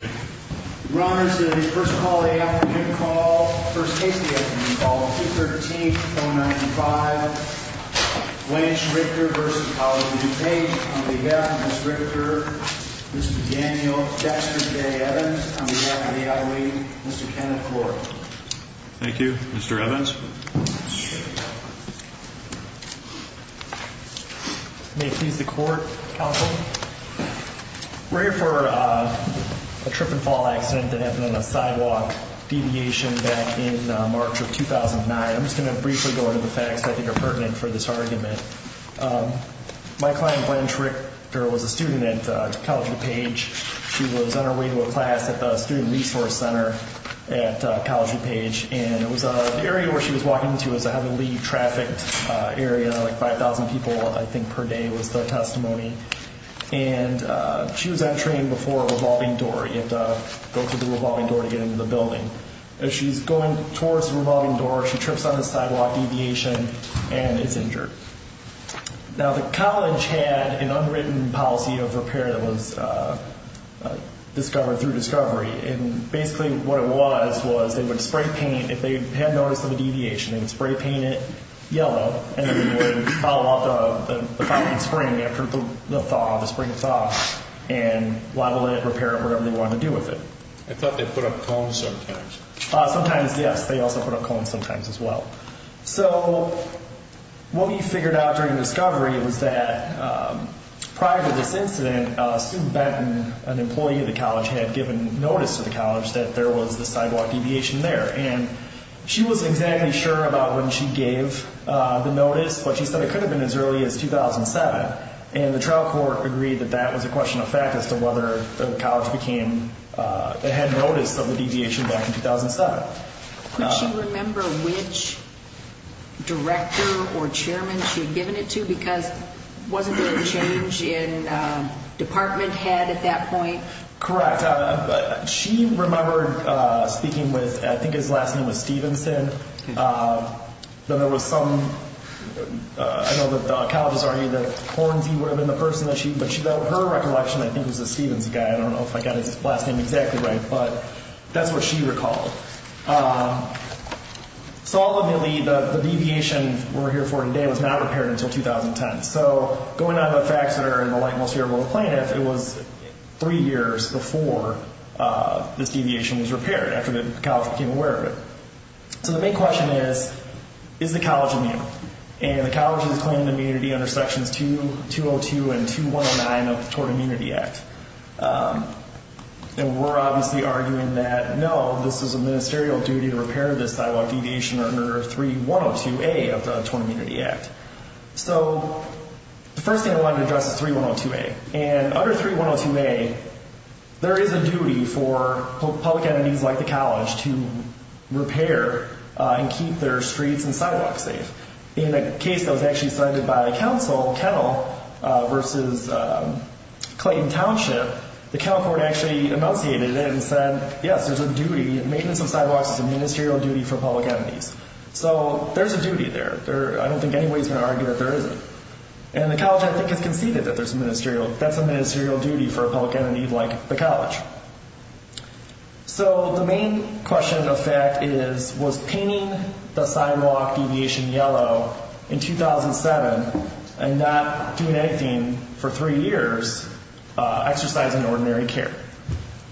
On behalf of Ms. Richter, Mr. Daniel, Dexter J. Evans, on behalf of the L.A. Mr. Kenneth Florey. Thank you. Mr. Evans. May it please the Court, Counsel. We're here for a trip and fall accident that happened on a sidewalk deviation back in March of 2009. I'm just going to briefly go into the facts that I think are pertinent for this argument. My client, Glenn Richter, was a student at College of DuPage. She was on her way to a class at the Student Resource Center at College of DuPage. And it was an area where she was walking into as a heavily trafficked area. Like 5,000 people, I think, per day was the testimony. And she was entering before a revolving door. You had to go through the revolving door to get into the building. As she's going towards the revolving door, she trips on the sidewalk deviation and is injured. Now, the college had an unwritten policy of repair that was discovered through discovery. And basically what it was was they would spray paint. If they had notice of a deviation, they would spray paint it yellow. And then they would follow up the thawing spring after the thaw, the spring thaw, and level it, repair it, whatever they wanted to do with it. I thought they put up cones sometimes. Sometimes, yes. They also put up cones sometimes as well. So what we figured out during discovery was that prior to this incident, student Benton, an employee of the college, had given notice to the college that there was the sidewalk deviation there. And she wasn't exactly sure about when she gave the notice, but she said it could have been as early as 2007. And the trial court agreed that that was a question of fact as to whether the college became and had notice of the deviation back in 2007. Could she remember which director or chairman she had given it to? Because wasn't there a change in department head at that point? Correct. She remembered speaking with, I think his last name was Stevenson. Then there was some, I know that the college was arguing that Hornsey would have been the person that she, but her recollection, I think, was a Stevenson guy. I don't know if I got his last name exactly right, but that's what she recalled. So all of the deviation we're here for today was not repaired until 2010. So going out of the facts that are in the light most favorable to plaintiff, it was three years before this deviation was repaired, after the college became aware of it. So the big question is, is the college immune? And the college has claimed immunity under Sections 202 and 2109 of the Tort Immunity Act. And we're obviously arguing that, no, this is a ministerial duty to repair this sidewalk deviation under 3102A of the Tort Immunity Act. So the first thing I wanted to address is 3102A. And under 3102A, there is a duty for public entities like the college to repair and keep their streets and sidewalks safe. In a case that was actually cited by counsel, Kennel v. Clayton Township, the Kennel court actually enunciated it and said, yes, there's a duty, maintenance of sidewalks is a ministerial duty for public entities. So there's a duty there. I don't think anybody's going to argue that there isn't. And the college, I think, has conceded that there's a ministerial, that's a ministerial duty for a public entity like the college. So the main question of fact is, was painting the sidewalk deviation yellow in 2007 and not doing anything for three years exercising ordinary care?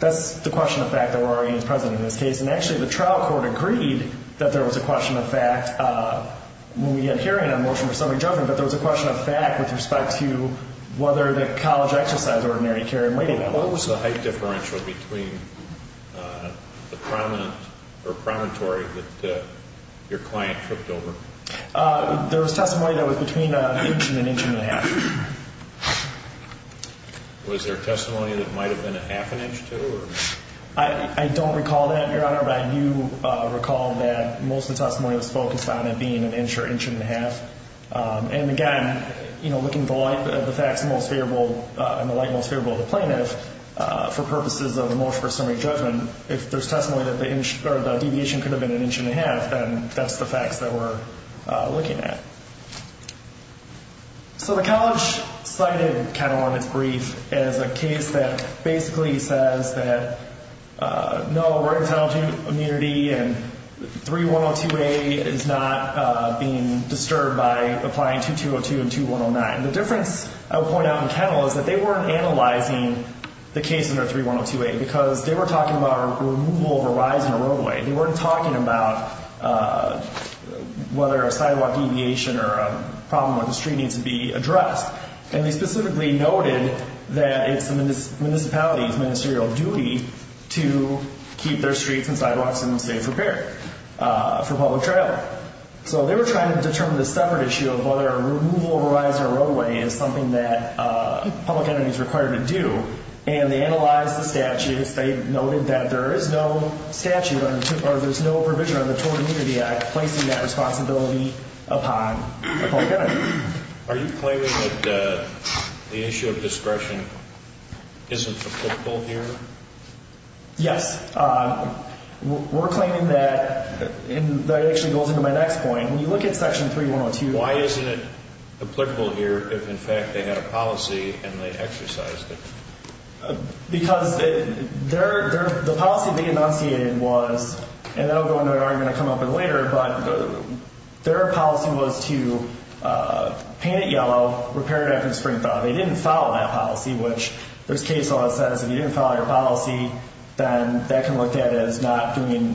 That's the question of fact that we're arguing is present in this case. And actually the trial court agreed that there was a question of fact when we had hearing on motion for subject judgment, but there was a question of fact with respect to whether the college exercised ordinary care in waiting. What was the height differential between the prominent or promontory that your client tripped over? There was testimony that was between an inch and an inch and a half. Was there testimony that might have been a half an inch too? I don't recall that, Your Honor, but I do recall that most of the testimony was focused on it being an inch or inch and a half. And again, looking at the facts in the light most favorable of the plaintiff, for purposes of a motion for summary judgment, if there's testimony that the deviation could have been an inch and a half, then that's the facts that we're looking at. So the college cited Catalonic's brief as a case that basically says that, no, we're entitled to immunity and 3102A is not being disturbed by applying 2202 and 2109. The difference I would point out in Kennel is that they weren't analyzing the case under 3102A because they were talking about removal of a rise in a roadway. They weren't talking about whether a sidewalk deviation or a problem with the street needs to be addressed. And they specifically noted that it's the municipality's ministerial duty to keep their streets and sidewalks in a safe repair for public travel. So they were trying to determine the separate issue of whether a removal of a rise in a roadway is something that a public entity is required to do. And they analyzed the statutes. They noted that there is no statute or there's no provision on the Tort Immunity Act placing that responsibility upon a public entity. Are you claiming that the issue of discretion isn't applicable here? Yes. We're claiming that, and that actually goes into my next point. When you look at Section 3102A. Why isn't it applicable here if, in fact, they had a policy and they exercised it? Because the policy they enunciated was, and that will go into an argument I'll come up with later, but their policy was to paint it yellow, repair it after the spring thaw. They didn't follow that policy, which there's case law that says if you didn't follow your policy, then that can be looked at as not fulfilling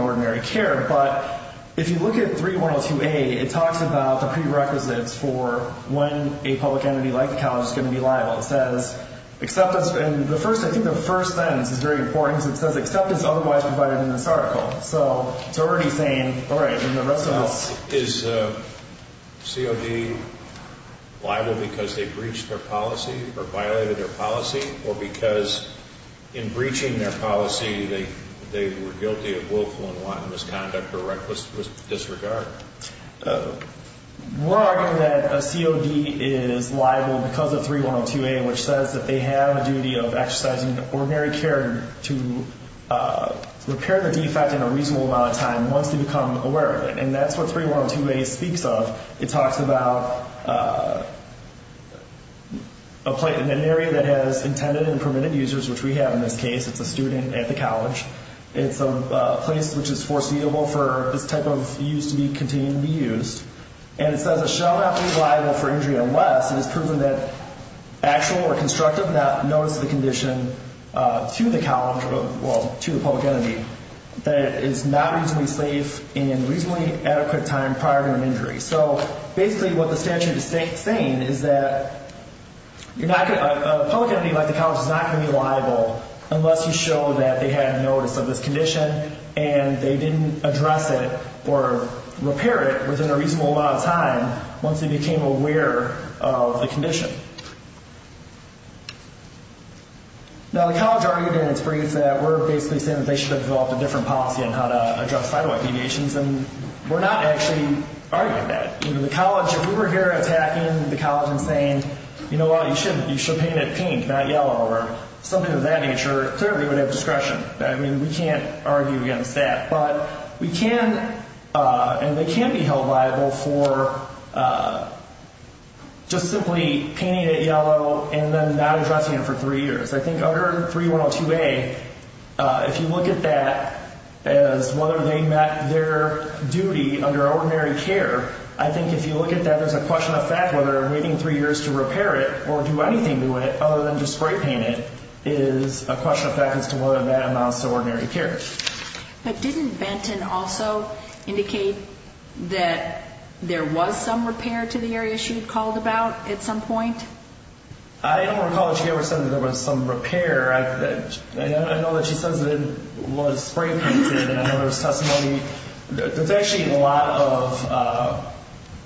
ordinary care. But if you look at 3102A, it talks about the prerequisites for when a public entity like the college is going to be liable. It says acceptance, and I think the first sentence is very important. It says acceptance otherwise provided in this article. So it's already saying, all right, then the rest of this. Is COD liable because they breached their policy or violated their policy or because in breaching their policy they were guilty of willful and wanton misconduct or reckless disregard? We're arguing that a COD is liable because of 3102A, which says that they have a duty of exercising ordinary care to repair the defect in a reasonable amount of time once they become aware of it, and that's what 3102A speaks of. It talks about an area that has intended and permitted users, which we have in this case. It's a student at the college. It's a place which is foreseeable for this type of use to continue to be used. And it says it shall not be liable for injury unless it is proven that actual or constructive notice of the condition to the college, well, to the public entity that it is not reasonably safe in a reasonably adequate time prior to an injury. So basically what the statute is saying is that a public entity like the college is not going to be liable unless you show that they had notice of this condition and they didn't address it or repair it within a reasonable amount of time once they became aware of the condition. Now, the college argued in its brief that we're basically saying that they should have developed a different policy on how to address sidewalk deviations, and we're not actually arguing that. The college, if we were here attacking the college and saying, you know what, you should paint it pink, not yellow, or something of that nature, clearly we would have discretion. I mean, we can't argue against that. But we can, and they can be held liable for just simply painting it yellow and then not addressing it for three years. I think under 3102A, if you look at that as whether they met their duty under ordinary care, I think if you look at that, there's a question of fact whether waiting three years to repair it or do anything to it other than just spray paint it is a question of fact as to whether that amounts to ordinary care. But didn't Benton also indicate that there was some repair to the area she had called about at some point? I don't recall that she ever said that there was some repair. I know that she says that it was spray painted, and I know there was testimony. There's actually a lot of,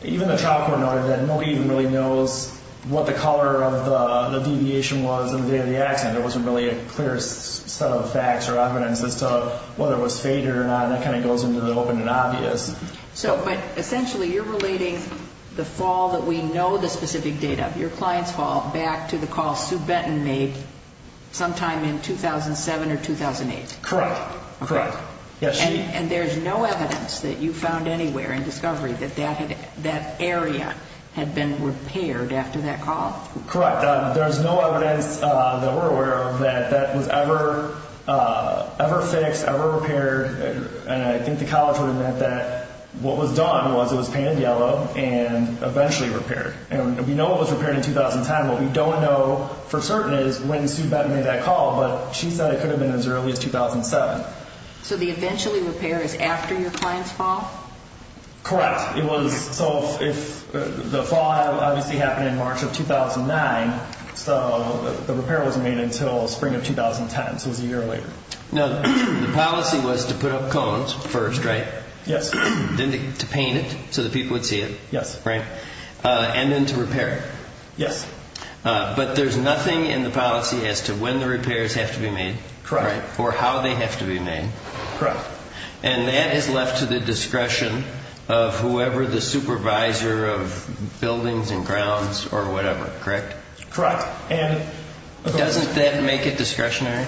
even the trial court noted that nobody even really knows what the color of the deviation was on the day of the accident. There wasn't really a clear set of facts or evidence as to whether it was faded or not, and that kind of goes into the open and obvious. But essentially you're relating the fall that we know the specific date of, your client's fall, back to the call Sue Benton made sometime in 2007 or 2008. Correct, correct. And there's no evidence that you found anywhere in discovery that that area had been repaired after that call? Correct. There's no evidence that we're aware of that that was ever fixed, ever repaired, and I think the college would have meant that what was done was it was painted yellow and eventually repaired. And we know it was repaired in 2010. What we don't know for certain is when Sue Benton made that call, but she said it could have been as early as 2007. So the eventually repair is after your client's fall? Correct. It was, so the fall obviously happened in March of 2009, so the repair wasn't made until spring of 2010, so it was a year later. Now, the policy was to put up cones first, right? Yes. Then to paint it so that people would see it. Yes. Right? And then to repair it. Yes. But there's nothing in the policy as to when the repairs have to be made. Correct. Or how they have to be made. Correct. And that is left to the discretion of whoever the supervisor of buildings and grounds or whatever, correct? Correct. Doesn't that make it discretionary?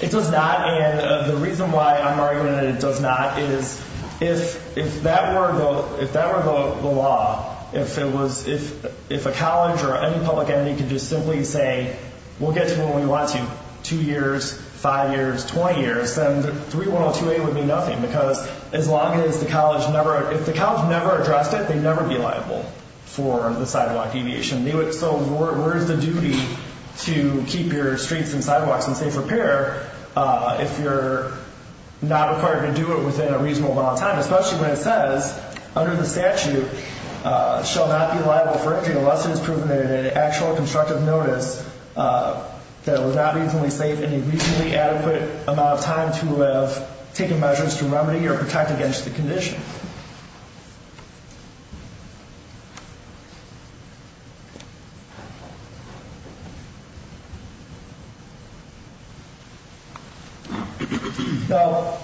It does not, and the reason why I'm arguing that it does not is if that were the law, if a college or any public entity could just simply say, we'll get to it when we want to, two years, five years, 20 years, then 3102A would mean nothing because as long as the college never, if the college never addressed it, they'd never be liable for the sidewalk deviation. So where is the duty to keep your streets and sidewalks in safe repair if you're not required to do it within a reasonable amount of time, especially when it says under the statute shall not be liable for injury unless it is proven in an actual constructive notice that it was not reasonably safe in a reasonably adequate amount of time to have taken measures to remedy or protect against the condition? Thank you. Now,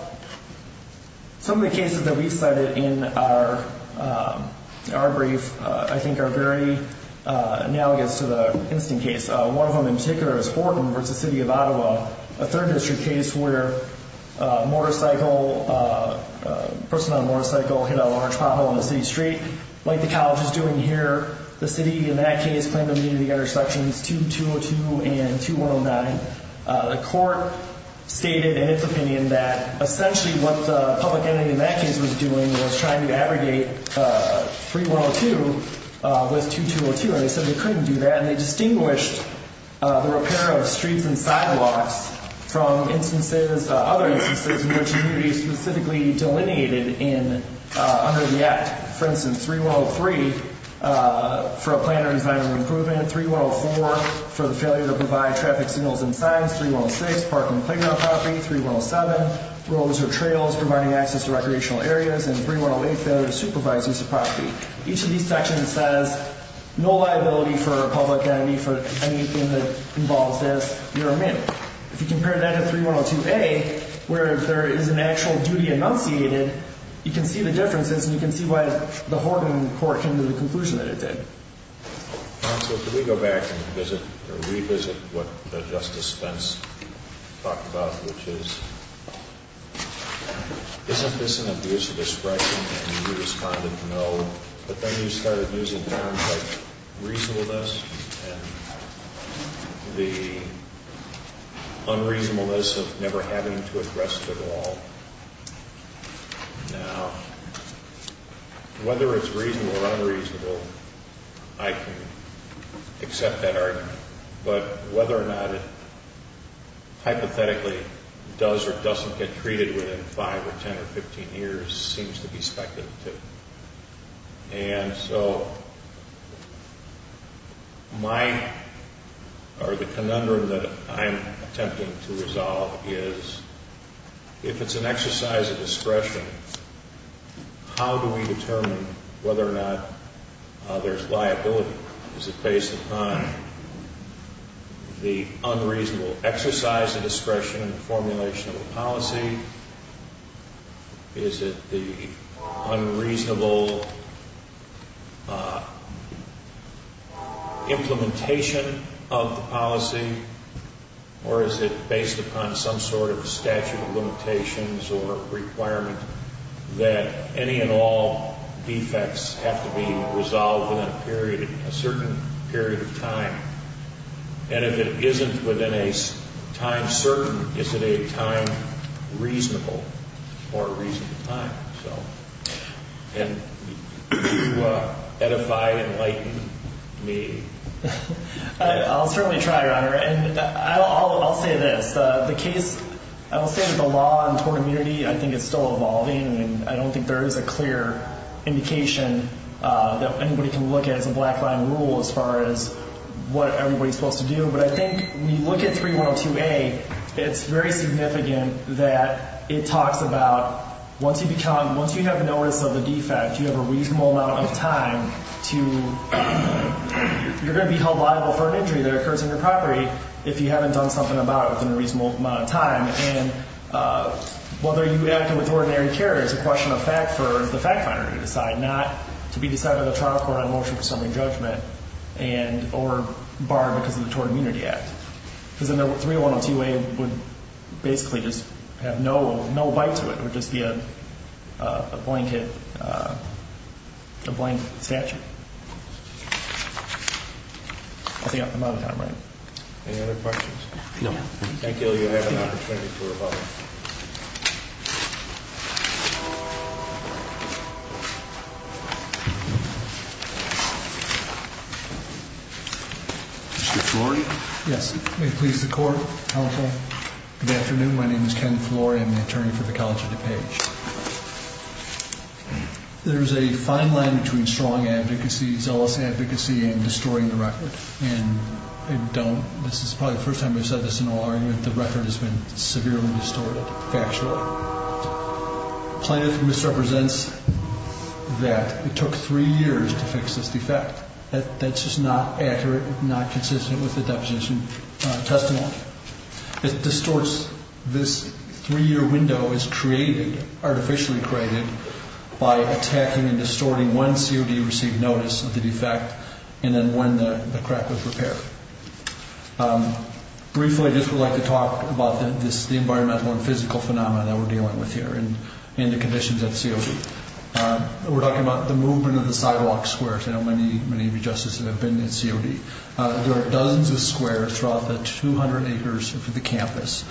some of the cases that we cited in our brief I think are very analogous to the instant case. One of them in particular is Horton v. City of Ottawa, a third district case where a motorcycle, a person on a motorcycle hit a large pothole on the city street like the college is doing here. The city in that case claimed immunity under sections 2202 and 2109. The court stated in its opinion that essentially what the public entity in that case was doing was trying to abrogate 3102 with 2202, and they said they couldn't do that. And they distinguished the repair of streets and sidewalks from instances, other instances in which immunity is specifically delineated under the act. For instance, 3103 for a plan or design of improvement, 3104 for the failure to provide traffic signals and signs, 3106 parking playground property, 3107 roads or trails providing access to recreational areas, and 3108 failure to supervise use of property. Each of these sections says no liability for a public entity for anything that involves this. You're a man. If you compare that to 3102A where there is an actual duty enunciated, you can see the differences and you can see why the Horton court came to the conclusion that it did. Counsel, can we go back and revisit what Justice Spence talked about, which is isn't this an abuse of discretion and you responded no, but then you started using terms like reasonableness and the unreasonableness of never having to address it at all. Now, whether it's reasonable or unreasonable, I can accept that argument. But whether or not it hypothetically does or doesn't get treated within 5 or 10 or 15 years seems to be speculative. And so my, or the conundrum that I'm attempting to resolve is if it's an exercise of discretion, how do we determine whether or not there's liability? Is it based upon the unreasonable exercise of discretion in the formulation of the policy? Is it the unreasonable implementation of the policy? Or is it based upon some sort of statute of limitations or requirement that any and all defects have to be resolved within a period, a certain period of time? And if it isn't within a time certain, is it a time reasonable or a reasonable time? And do you edify and enlighten me? I'll certainly try, Your Honor. And I'll say this. The case, I will say that the law on tort immunity, I think it's still evolving and I don't think there is a clear indication that anybody can look at as a black line rule as far as what everybody's supposed to do. But I think when you look at 3102A, it's very significant that it talks about once you become, once you have notice of a defect, you have a reasonable amount of time to, you're going to be held liable for an injury that occurs on your property if you haven't done something about it within a reasonable amount of time. And whether you act with ordinary care is a question of fact for the fact finder to decide, not to be decided by the trial court on motion for summary judgment or barred because of the Tort Immunity Act. Because 3102A would basically just have no bite to it. It would just be a blanket, a blank statute. I think I'm out of time, right? Any other questions? No. Thank you. You have an opportunity to rebuttal. Mr. Flory? Yes. May it please the court, counsel. Good afternoon. My name is Ken Flory. I'm the attorney for the College of DuPage. There is a fine line between strong advocacy, zealous advocacy, and destroying the record. And I don't, this is probably the first time I've said this in a law argument, the record has been severely distorted, factually. Plaintiff misrepresents that it took three years to fix this defect. That's just not accurate, not consistent with the deposition testimony. It distorts, this three-year window is created, artificially created, by attacking and distorting when COD received notice of the defect and then when the crack was repaired. Briefly, I just would like to talk about the environmental and physical phenomena that we're dealing with here and the conditions of COD. We're talking about the movement of the sidewalk squares. I know many of you justices have been in COD. There are dozens of squares throughout the 200 acres of the campus.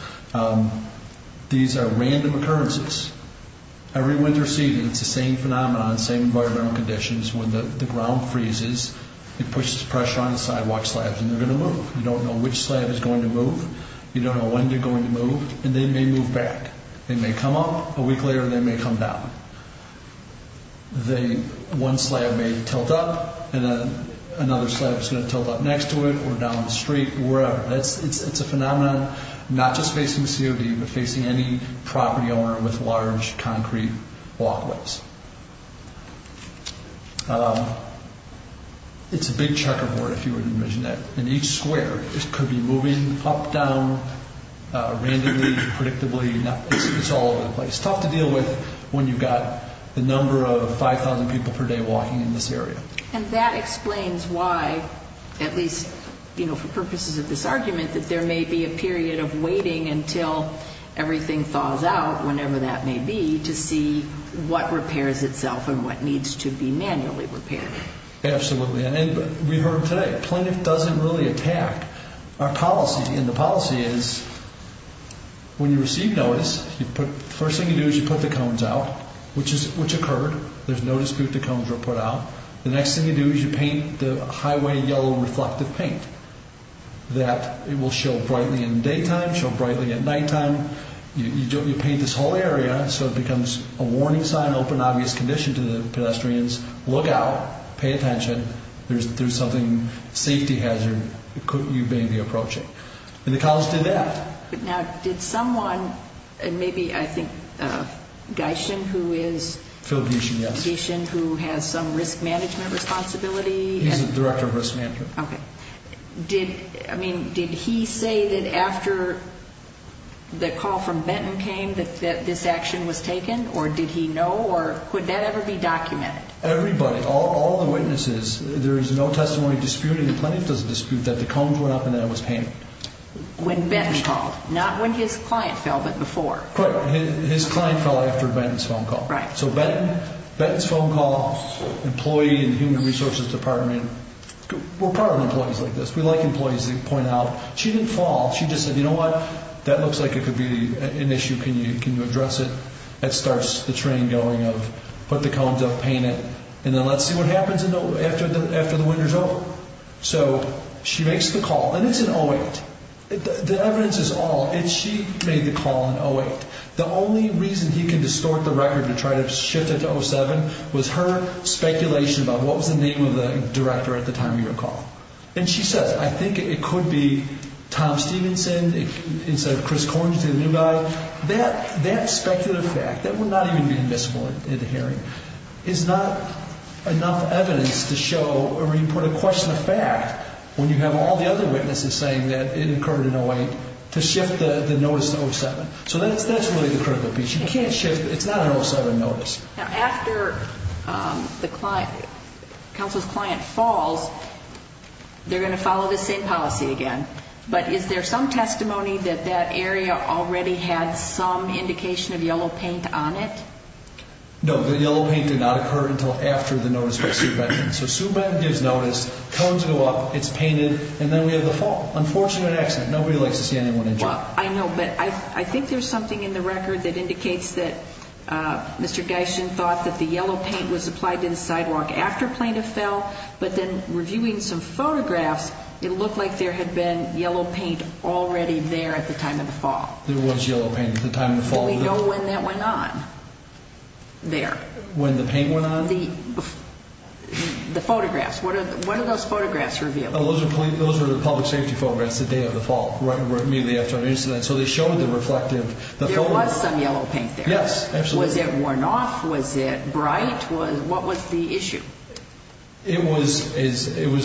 These are random occurrences. Every winter season, it's the same phenomenon, same environmental conditions. When the ground freezes, it pushes pressure on the sidewalk slabs, and they're going to move. You don't know which slab is going to move. You don't know when they're going to move, and they may move back. They may come up a week later, and they may come down. One slab may tilt up, and then another slab is going to tilt up next to it or down the street or wherever. It's a phenomenon not just facing COD, but facing any property owner with large concrete walkways. It's a big checkerboard, if you would envision it, and each square could be moving up, down, randomly, predictably. It's all over the place. It's tough to deal with when you've got the number of 5,000 people per day walking in this area. And that explains why, at least for purposes of this argument, that there may be a period of waiting until everything thaws out, whenever that may be, to see what repairs itself and what needs to be manually repaired. Absolutely, and we heard today. Plaintiff doesn't really attack our policy, and the policy is when you receive notice, the first thing you do is you put the cones out, which occurred. There's no dispute the cones were put out. The next thing you do is you paint the highway yellow reflective paint. That will show brightly in daytime, show brightly at nighttime. You paint this whole area so it becomes a warning sign, open, obvious condition to the pedestrians. Look out. Pay attention. There's something, safety hazard, you may be approaching. And the college did that. Now, did someone, and maybe, I think, Gyshen, who is? Phil Gyshen, yes. Gyshen, who has some risk management responsibility? He's the director of risk management. Okay. Did, I mean, did he say that after the call from Benton came that this action was taken, or did he know, or could that ever be documented? Everybody, all the witnesses, there is no testimony disputing the plaintiff's dispute that the cones went up and that it was painted. When Benton called, not when his client fell, but before. Correct. His client fell after Benton's phone call. Right. So Benton's phone call, employee in the human resources department, we're proud of employees like this. We like employees that point out. She didn't fall. She just said, you know what? That looks like it could be an issue. Can you address it? That starts the train going of put the cones up, paint it, and then let's see what happens after the winter's over. So she makes the call, and it's an 08. The evidence is all. She made the call on 08. The only reason he can distort the record to try to shift it to 07 was her speculation about what was the name of the director at the time of your call. And she says, I think it could be Tom Stevenson instead of Chris Corns, the new guy. That speculative fact, that would not even be admissible in the hearing, is not enough evidence to show, or even put a question of fact, when you have all the other witnesses saying that it occurred in 08, to shift the notice to 07. So that's really the critical piece. You can't shift it. It's not an 07 notice. Now, after the counsel's client falls, they're going to follow this same policy again. But is there some testimony that that area already had some indication of yellow paint on it? No, the yellow paint did not occur until after the notice by Sue Benton. So Sue Benton gives notice, cones go up, it's painted, and then we have the fall. Unfortunate accident. Nobody likes to see anyone injured. I know, but I think there's something in the record that indicates that Mr. Gyshin thought that the yellow paint was applied to the sidewalk after plaintiff fell, but then reviewing some photographs, it looked like there had been yellow paint already there at the time of the fall. There was yellow paint at the time of the fall. Do we know when that went on there? When the paint went on? The photographs. What are those photographs revealed? Those are the public safety photographs the day of the fall, right immediately after an incident. So they showed the reflective photographs. There was some yellow paint there. Yes, absolutely. Was it worn off? Was it bright? What was the issue? It was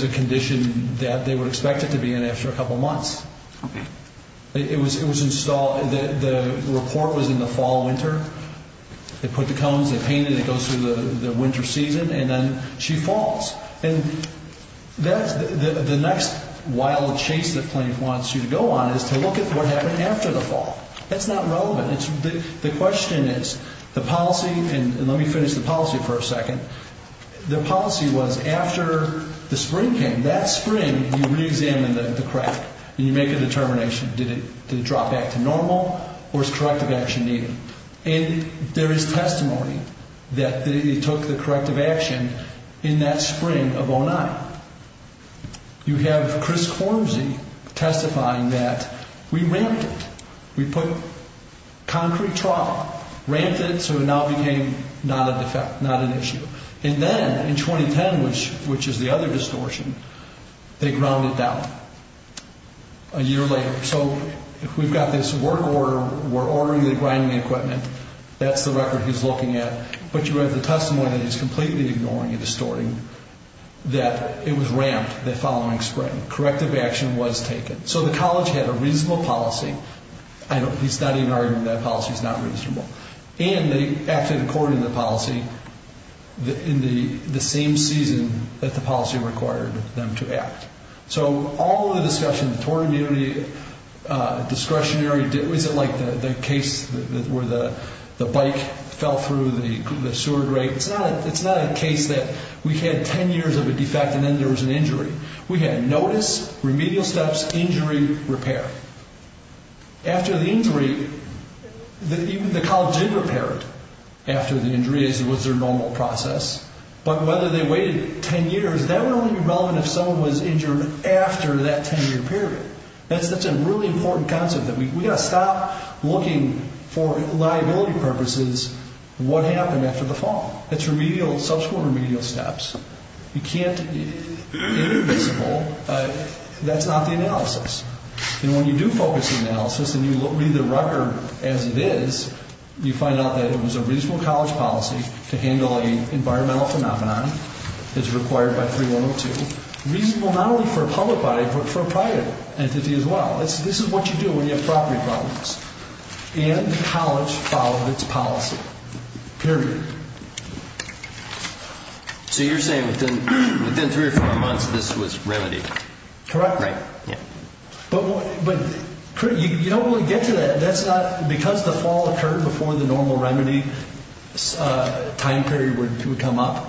a condition that they would expect it to be in after a couple months. Okay. It was installed. The report was in the fall-winter. They put the cones, they painted, it goes through the winter season, and then she falls. The next wild chase that plaintiff wants you to go on is to look at what happened after the fall. That's not relevant. The question is, the policy, and let me finish the policy for a second. The policy was after the spring came, that spring you re-examine the crack, and you make a determination. Did it drop back to normal, or is corrective action needed? There is testimony that they took the corrective action in that spring of 2009. You have Chris Quormzy testifying that we ramped it. We put concrete trough, ramped it so it now became not a defect, not an issue. And then in 2010, which is the other distortion, they ground it down a year later. So we've got this work order. We're ordering the grinding equipment. That's the record he's looking at. But you have the testimony that he's completely ignoring and distorting that it was ramped the following spring. Corrective action was taken. So the college had a reasonable policy. He's not even arguing that policy's not reasonable. And they acted according to the policy in the same season that the policy required them to act. So all of the discussion, torn immunity, discretionary, was it like the case where the bike fell through the sewer grate? It's not a case that we had 10 years of a defect and then there was an injury. We had notice, remedial steps, injury, repair. After the injury, the college did repair it after the injury as was their normal process. But whether they waited 10 years, that would only be relevant if someone was injured after that 10-year period. That's a really important concept. We've got to stop looking for liability purposes what happened after the fall. It's remedial, subsequent remedial steps. You can't be invisible. That's not the analysis. And when you do focus the analysis and you read the record as it is, you find out that it was a reasonable college policy to handle an environmental phenomenon. It's required by 3102. Reasonable not only for a public body but for a private entity as well. This is what you do when you have property problems. And the college followed its policy, period. So you're saying within three or four months this was remedied? Correct. But you don't really get to that. Because the fall occurred before the normal remedy time period would come up,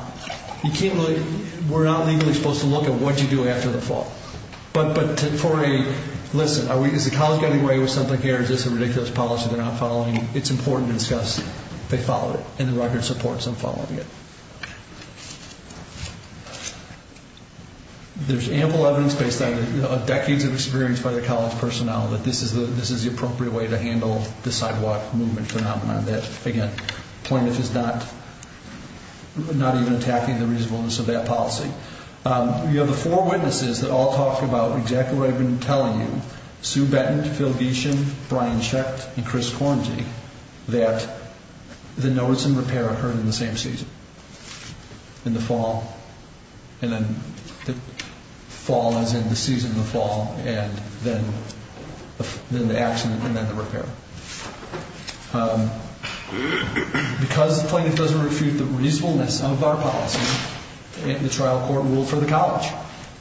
we're not legally supposed to look at what you do after the fall. But for a, listen, is the college getting away with something here? Is this a ridiculous policy they're not following? It's important to discuss. They followed it, and the record supports them following it. There's ample evidence based on decades of experience by the college personnel that this is the appropriate way to handle the sidewalk movement phenomenon. Again, the point is it's not even attacking the reasonableness of that policy. You have the four witnesses that all talk about exactly what I've been telling you, Sue Benton, Phil Gieschen, Brian Schecht, and Chris Kornje, that the notice and repair occurred in the same season, in the fall. And then the fall is in the season of the fall, and then the accident and then the repair. Because the plaintiff doesn't refute the reasonableness of our policy, the trial court ruled for the college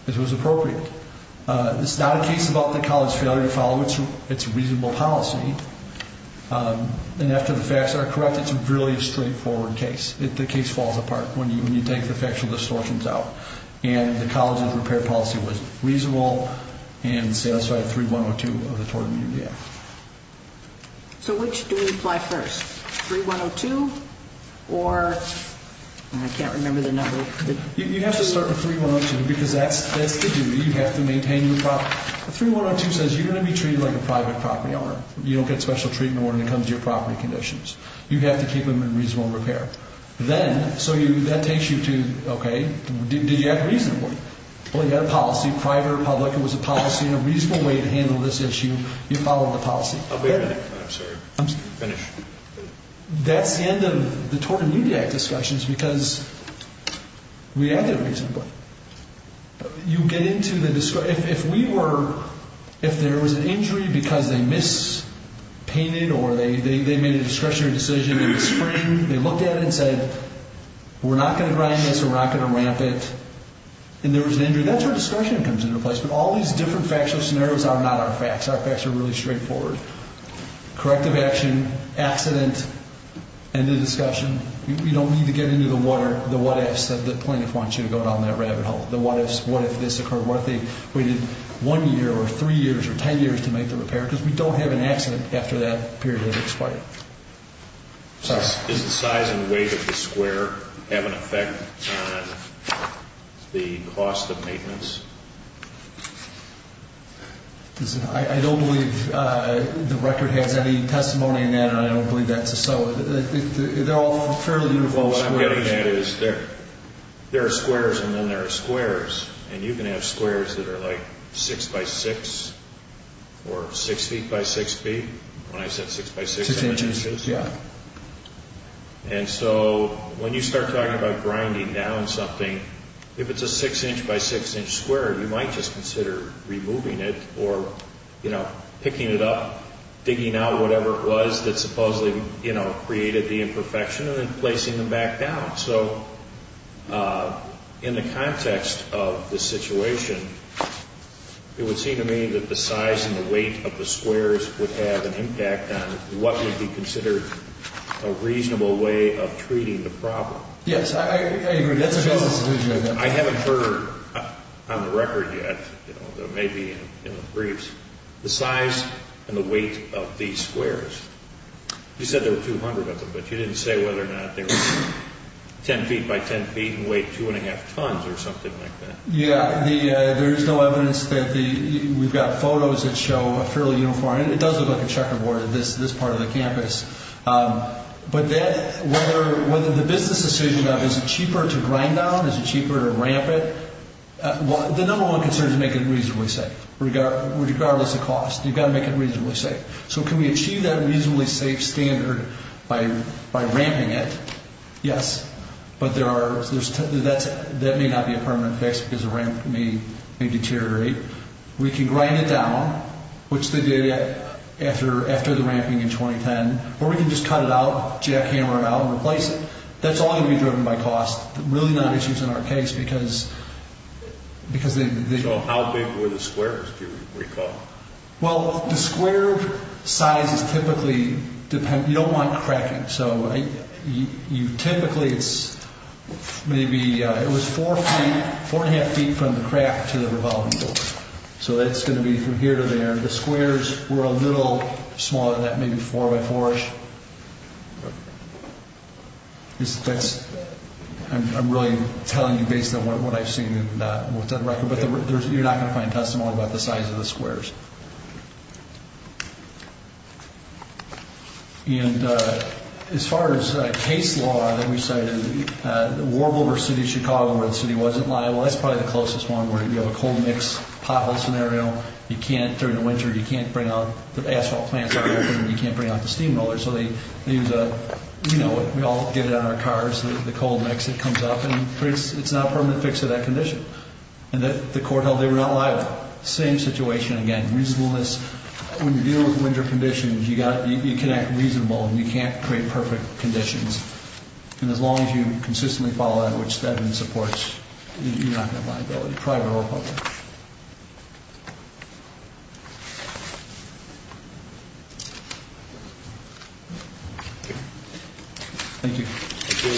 that it was appropriate. It's not a case about the college failure to follow its reasonable policy. And after the facts are correct, it's really a straightforward case. The case falls apart when you take the factual distortions out. And the college's repair policy was reasonable and satisfied 3102 of the Tort Immunity Act. So which do we apply first, 3102 or? I can't remember the number. You have to start with 3102 because that's the duty. You have to maintain your property. 3102 says you're going to be treated like a private property owner. You don't get special treatment when it comes to your property conditions. You have to keep them in reasonable repair. Then, so that takes you to, okay, did you act reasonably? Well, you had a policy, private or public. It was a policy and a reasonable way to handle this issue. You followed the policy. Wait a minute. I'm sorry. Finish. That's the end of the Tort Immunity Act discussions because we acted reasonably. You get into the, if we were, if there was an injury because they mispainted or they made a discretionary decision in the spring, they looked at it and said we're not going to grind this or we're not going to ramp it, and there was an injury, that's where discretion comes into play. But all these different factual scenarios are not our facts. Our facts are really straightforward. Corrective action, accident, end of discussion. You don't need to get into the what ifs because the plaintiff wants you to go down that rabbit hole. The what ifs, what if this occurred, what if they waited one year or three years or ten years to make the repair because we don't have an accident after that period of expiry. Is the size and weight of the square have an effect on the cost of maintenance? I don't believe the record has any testimony in that, and I don't believe that's so. They're all fairly uniform squares. What I'm getting at is there are squares and then there are squares, and you can have squares that are like six by six or six feet by six feet. When I said six by six, I meant inches. And so when you start talking about grinding down something, if it's a six inch by six inch square, you might just consider removing it or picking it up, digging out whatever it was that supposedly created the imperfection and then placing them back down. So in the context of the situation, it would seem to me that the size and the weight of the squares would have an impact on what would be considered a reasonable way of treating the problem. Yes, I agree. That's a good solution. I haven't heard on the record yet, though it may be in the briefs, the size and the weight of these squares. You said there were 200 of them, but you didn't say whether or not they were 10 feet by 10 feet and weighed 2 1⁄2 tons or something like that. Yes, there is no evidence that we've got photos that show fairly uniform. It does look like a checkerboard at this part of the campus. But whether the business decision of is it cheaper to grind down, is it cheaper to ramp it, the number one concern is to make it reasonably safe, regardless of cost. You've got to make it reasonably safe. So can we achieve that reasonably safe standard by ramping it? Yes, but that may not be a permanent fix because the ramp may deteriorate. We can grind it down, which they did after the ramping in 2010, or we can just cut it out, jackhammer it out, and replace it. That's all going to be driven by cost, really not issues in our case. So how big were the squares, do you recall? Well, the square sizes typically depend, you don't want cracking. So typically it's maybe, it was 4 feet, 4 1⁄2 feet from the crack to the revolving door. So that's going to be from here to there. The squares were a little smaller than that, maybe 4 by 4-ish. I'm really telling you based on what I've seen and what's on the record. But you're not going to find testimony about the size of the squares. And as far as case law that we cited, the Warbler versus Chicago where the city wasn't liable, that's probably the closest one where you have a cold mix pothole scenario. You can't, during the winter, you can't bring out, the asphalt plants aren't open, and you can't bring out the steam rollers. So they use a, you know, we all get it on our cars, the cold mix that comes up, and it's not a permanent fix to that condition. And the court held they were not liable. Same situation again, reasonableness. When you're dealing with winter conditions, you can act reasonable, and you can't create perfect conditions. And as long as you consistently follow that, which Devin supports, you're not going to have liability, private or public. Thank you. Thank you.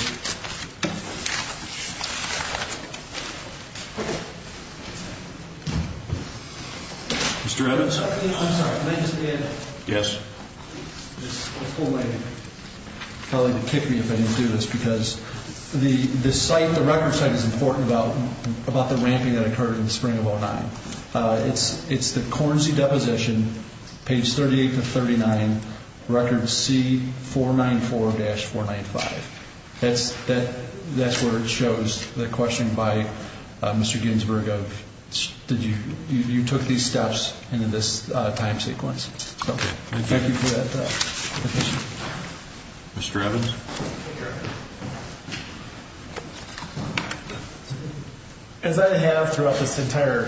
Mr. Evans? I'm sorry. Can I just add? Yes. This whole thing probably would kick me if I didn't do this because the site, the record site is important about the ramping that occurred in the spring of 2009. It's the Cornesie Deposition, page 38 to 39, record C494-495. That's where it shows the question by Mr. Ginsburg of did you, you took these steps in this time sequence. Thank you for that. Mr. Evans? As I have throughout this entire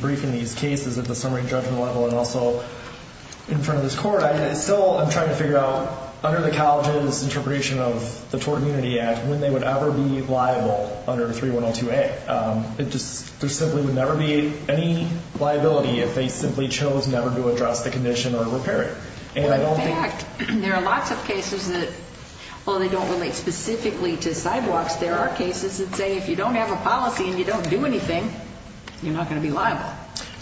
briefing, these cases at the summary judgment level and also in front of this court, I still am trying to figure out under the college's interpretation of the Tort Immunity Act when they would ever be liable under 3102A. There simply would never be any liability if they simply chose never to address the condition or repair it. Well, in fact, there are lots of cases that, while they don't relate specifically to sidewalks, there are cases that say if you don't have a policy and you don't do anything, you're not going to be liable.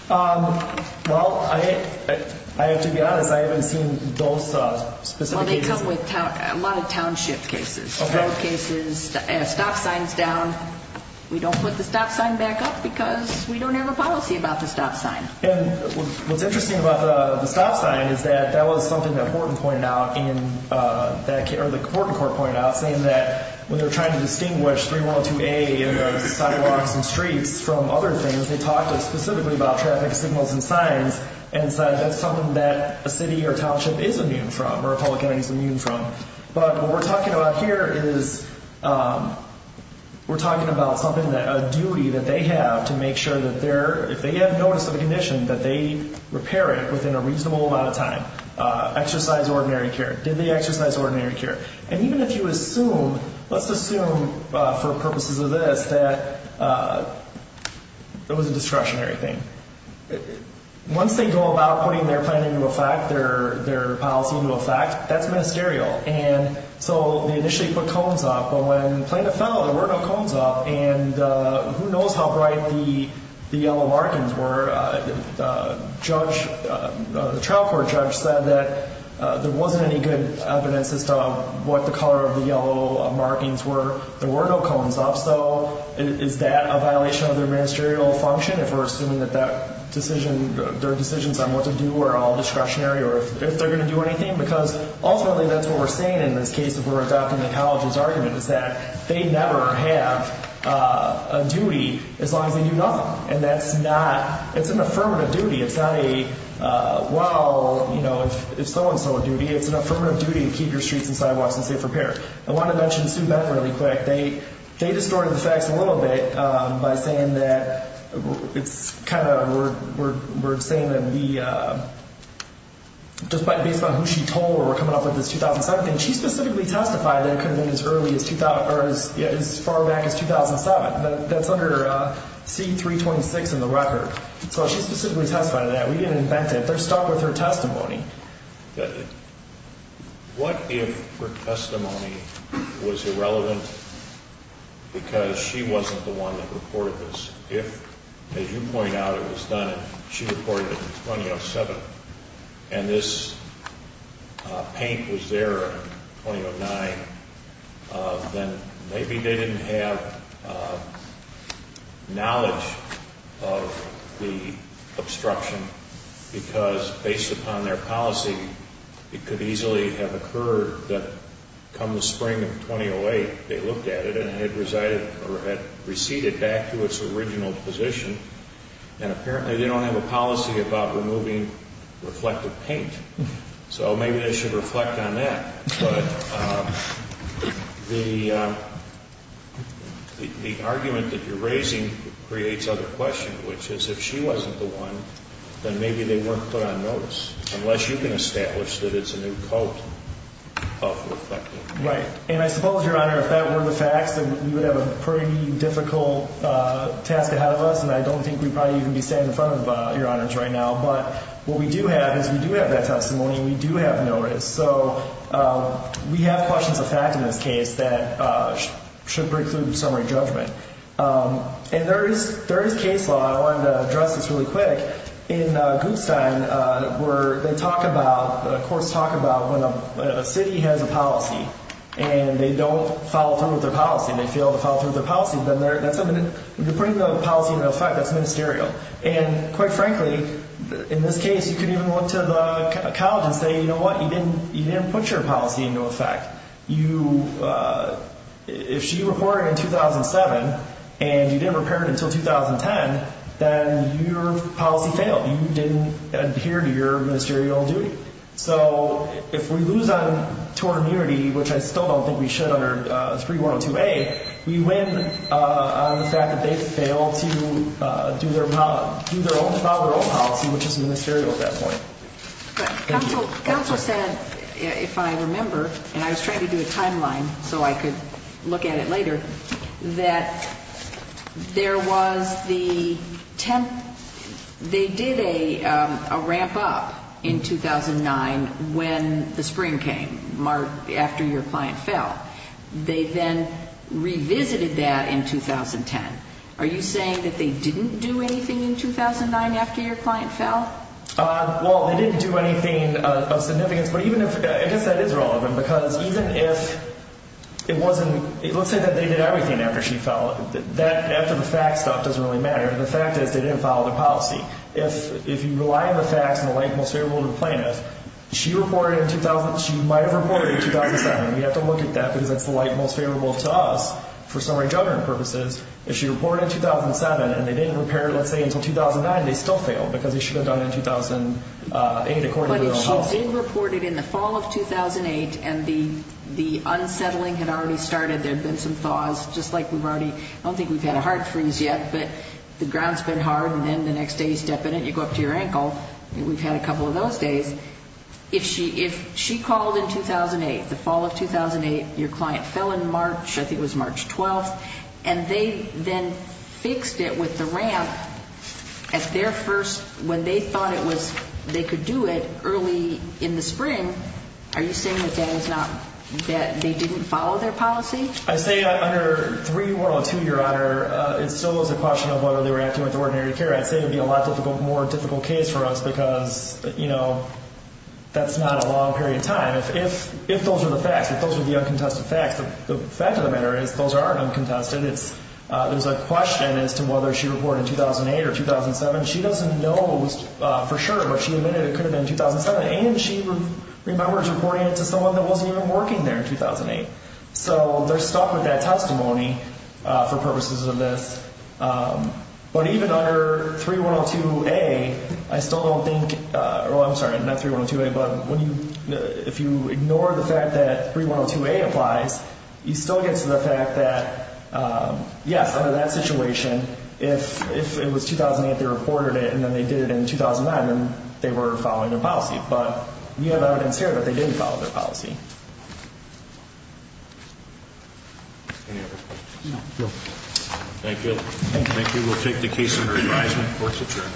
Well, I have to be honest. I haven't seen those specific cases. Well, they come with a lot of township cases, road cases, stop signs down. We don't put the stop sign back up because we don't have a policy about the stop sign. And what's interesting about the stop sign is that that was something that Horton pointed out in that case, or that Horton Court pointed out, saying that when they're trying to distinguish 3102A sidewalks and streets from other things, they talked specifically about traffic signals and signs, and said that's something that a city or township is immune from, or a public entity is immune from. But what we're talking about here is we're talking about something that a they have to make sure that if they have notice of a condition, that they repair it within a reasonable amount of time. Exercise ordinary care. Did they exercise ordinary care? And even if you assume, let's assume for purposes of this, that it was a discretionary thing. Once they go about putting their plan into effect, their policy into effect, that's ministerial. And so they initially put cones up, but when the plan fell, there were no cones up. And who knows how bright the yellow markings were. The trial court judge said that there wasn't any good evidence as to what the color of the yellow markings were. There were no cones up. So is that a violation of their ministerial function, if we're assuming that their decisions on what to do were all discretionary, or if they're going to do anything? Because ultimately that's what we're saying in this case if we're adopting the college's argument, is that they never have a duty as long as they do nothing. And that's not, it's an affirmative duty. It's not a, well, you know, if so-and-so duty. It's an affirmative duty to keep your streets and sidewalks in safe repair. I want to mention Sue Beck really quick. They distorted the facts a little bit by saying that it's kind of, we're saying that we, just based on who she told where we're coming up with this 2007 thing, she specifically testified that it could have been as early as 2000, or as far back as 2007. That's under C-326 in the record. So she specifically testified to that. We didn't invent it. They're stuck with her testimony. What if her testimony was irrelevant because she wasn't the one that reported this? If, as you point out, it was done and she reported it in 2007, and this paint was there in 2009, then maybe they didn't have knowledge of the obstruction because based upon their policy, it could easily have occurred that come the spring of 2008, they looked at it and it had receded back to its original position. And apparently they don't have a policy about removing reflective paint. So maybe they should reflect on that. But the argument that you're raising creates other questions, which is if she wasn't the one, then maybe they weren't put on notice, unless you can establish that it's a new coat of reflective paint. Right. And I suppose, Your Honor, if that were the facts, we would have a pretty difficult task ahead of us, and I don't think we'd probably even be standing in front of Your Honors right now. But what we do have is we do have that testimony and we do have notice. So we have questions of fact in this case that should break through the summary judgment. And there is case law. I wanted to address this really quick. In Guttstein, they talk about, of course, talk about when a city has a policy and they don't follow through with their policy, they fail to follow through with their policy, then they're putting the policy into effect, that's ministerial. And quite frankly, in this case, you could even look to the college and say, you know what, you didn't put your policy into effect. If she reported in 2007 and you didn't repair it until 2010, then your policy failed. You didn't adhere to your ministerial duty. So if we lose on tort immunity, which I still don't think we should under 3102A, we win on the fact that they fail to do their own policy, which is ministerial at that point. Counsel said, if I remember, and I was trying to do a timeline so I could look at it later, that there was the 10th, they did a ramp up in 2009 when the spring came, after your client fell. They then revisited that in 2010. Are you saying that they didn't do anything in 2009 after your client fell? Well, they didn't do anything of significance. But even if, I guess that is relevant, because even if it wasn't, let's say that they did everything after she fell. After the fact stuff doesn't really matter. The fact is they didn't follow the policy. If you rely on the facts and the light and most favorable to the plaintiff, she might have reported in 2007. We have to look at that because that's the light and most favorable to us for summary judgment purposes. If she reported in 2007 and they didn't repair it, let's say, until 2009, they still fail because they should have done it in 2008 according to their own policy. If she did report it in the fall of 2008 and the unsettling had already started, there had been some thaws, just like we've already, I don't think we've had a heart freeze yet, but the ground's been hard and then the next day you step in it and you go up to your ankle. We've had a couple of those days. If she called in 2008, the fall of 2008, your client fell in March, I think it was March 12th, and they then fixed it with the ramp at their first, when they thought they could do it early in the spring, are you saying that they didn't follow their policy? I'd say under 3102, Your Honor, it still is a question of whether they were acting with ordinary care. I'd say it would be a more difficult case for us because, you know, that's not a long period of time. If those are the facts, if those are the uncontested facts, the fact of the matter is those are uncontested. There's a question as to whether she reported in 2008 or 2007. She doesn't know for sure, but she admitted it could have been 2007, and she remembers reporting it to someone that wasn't even working there in 2008. So they're stuck with that testimony for purposes of this. But even under 3102A, I still don't think, well, I'm sorry, not 3102A, but if you ignore the fact that 3102A applies, you still get to the fact that, yes, under that situation, if it was 2008 they reported it and then they did it in 2009, then they were following their policy. But we have evidence here that they didn't follow their policy. Any other questions? No. Thank you. Thank you. We'll take the case under advisement. Court is adjourned.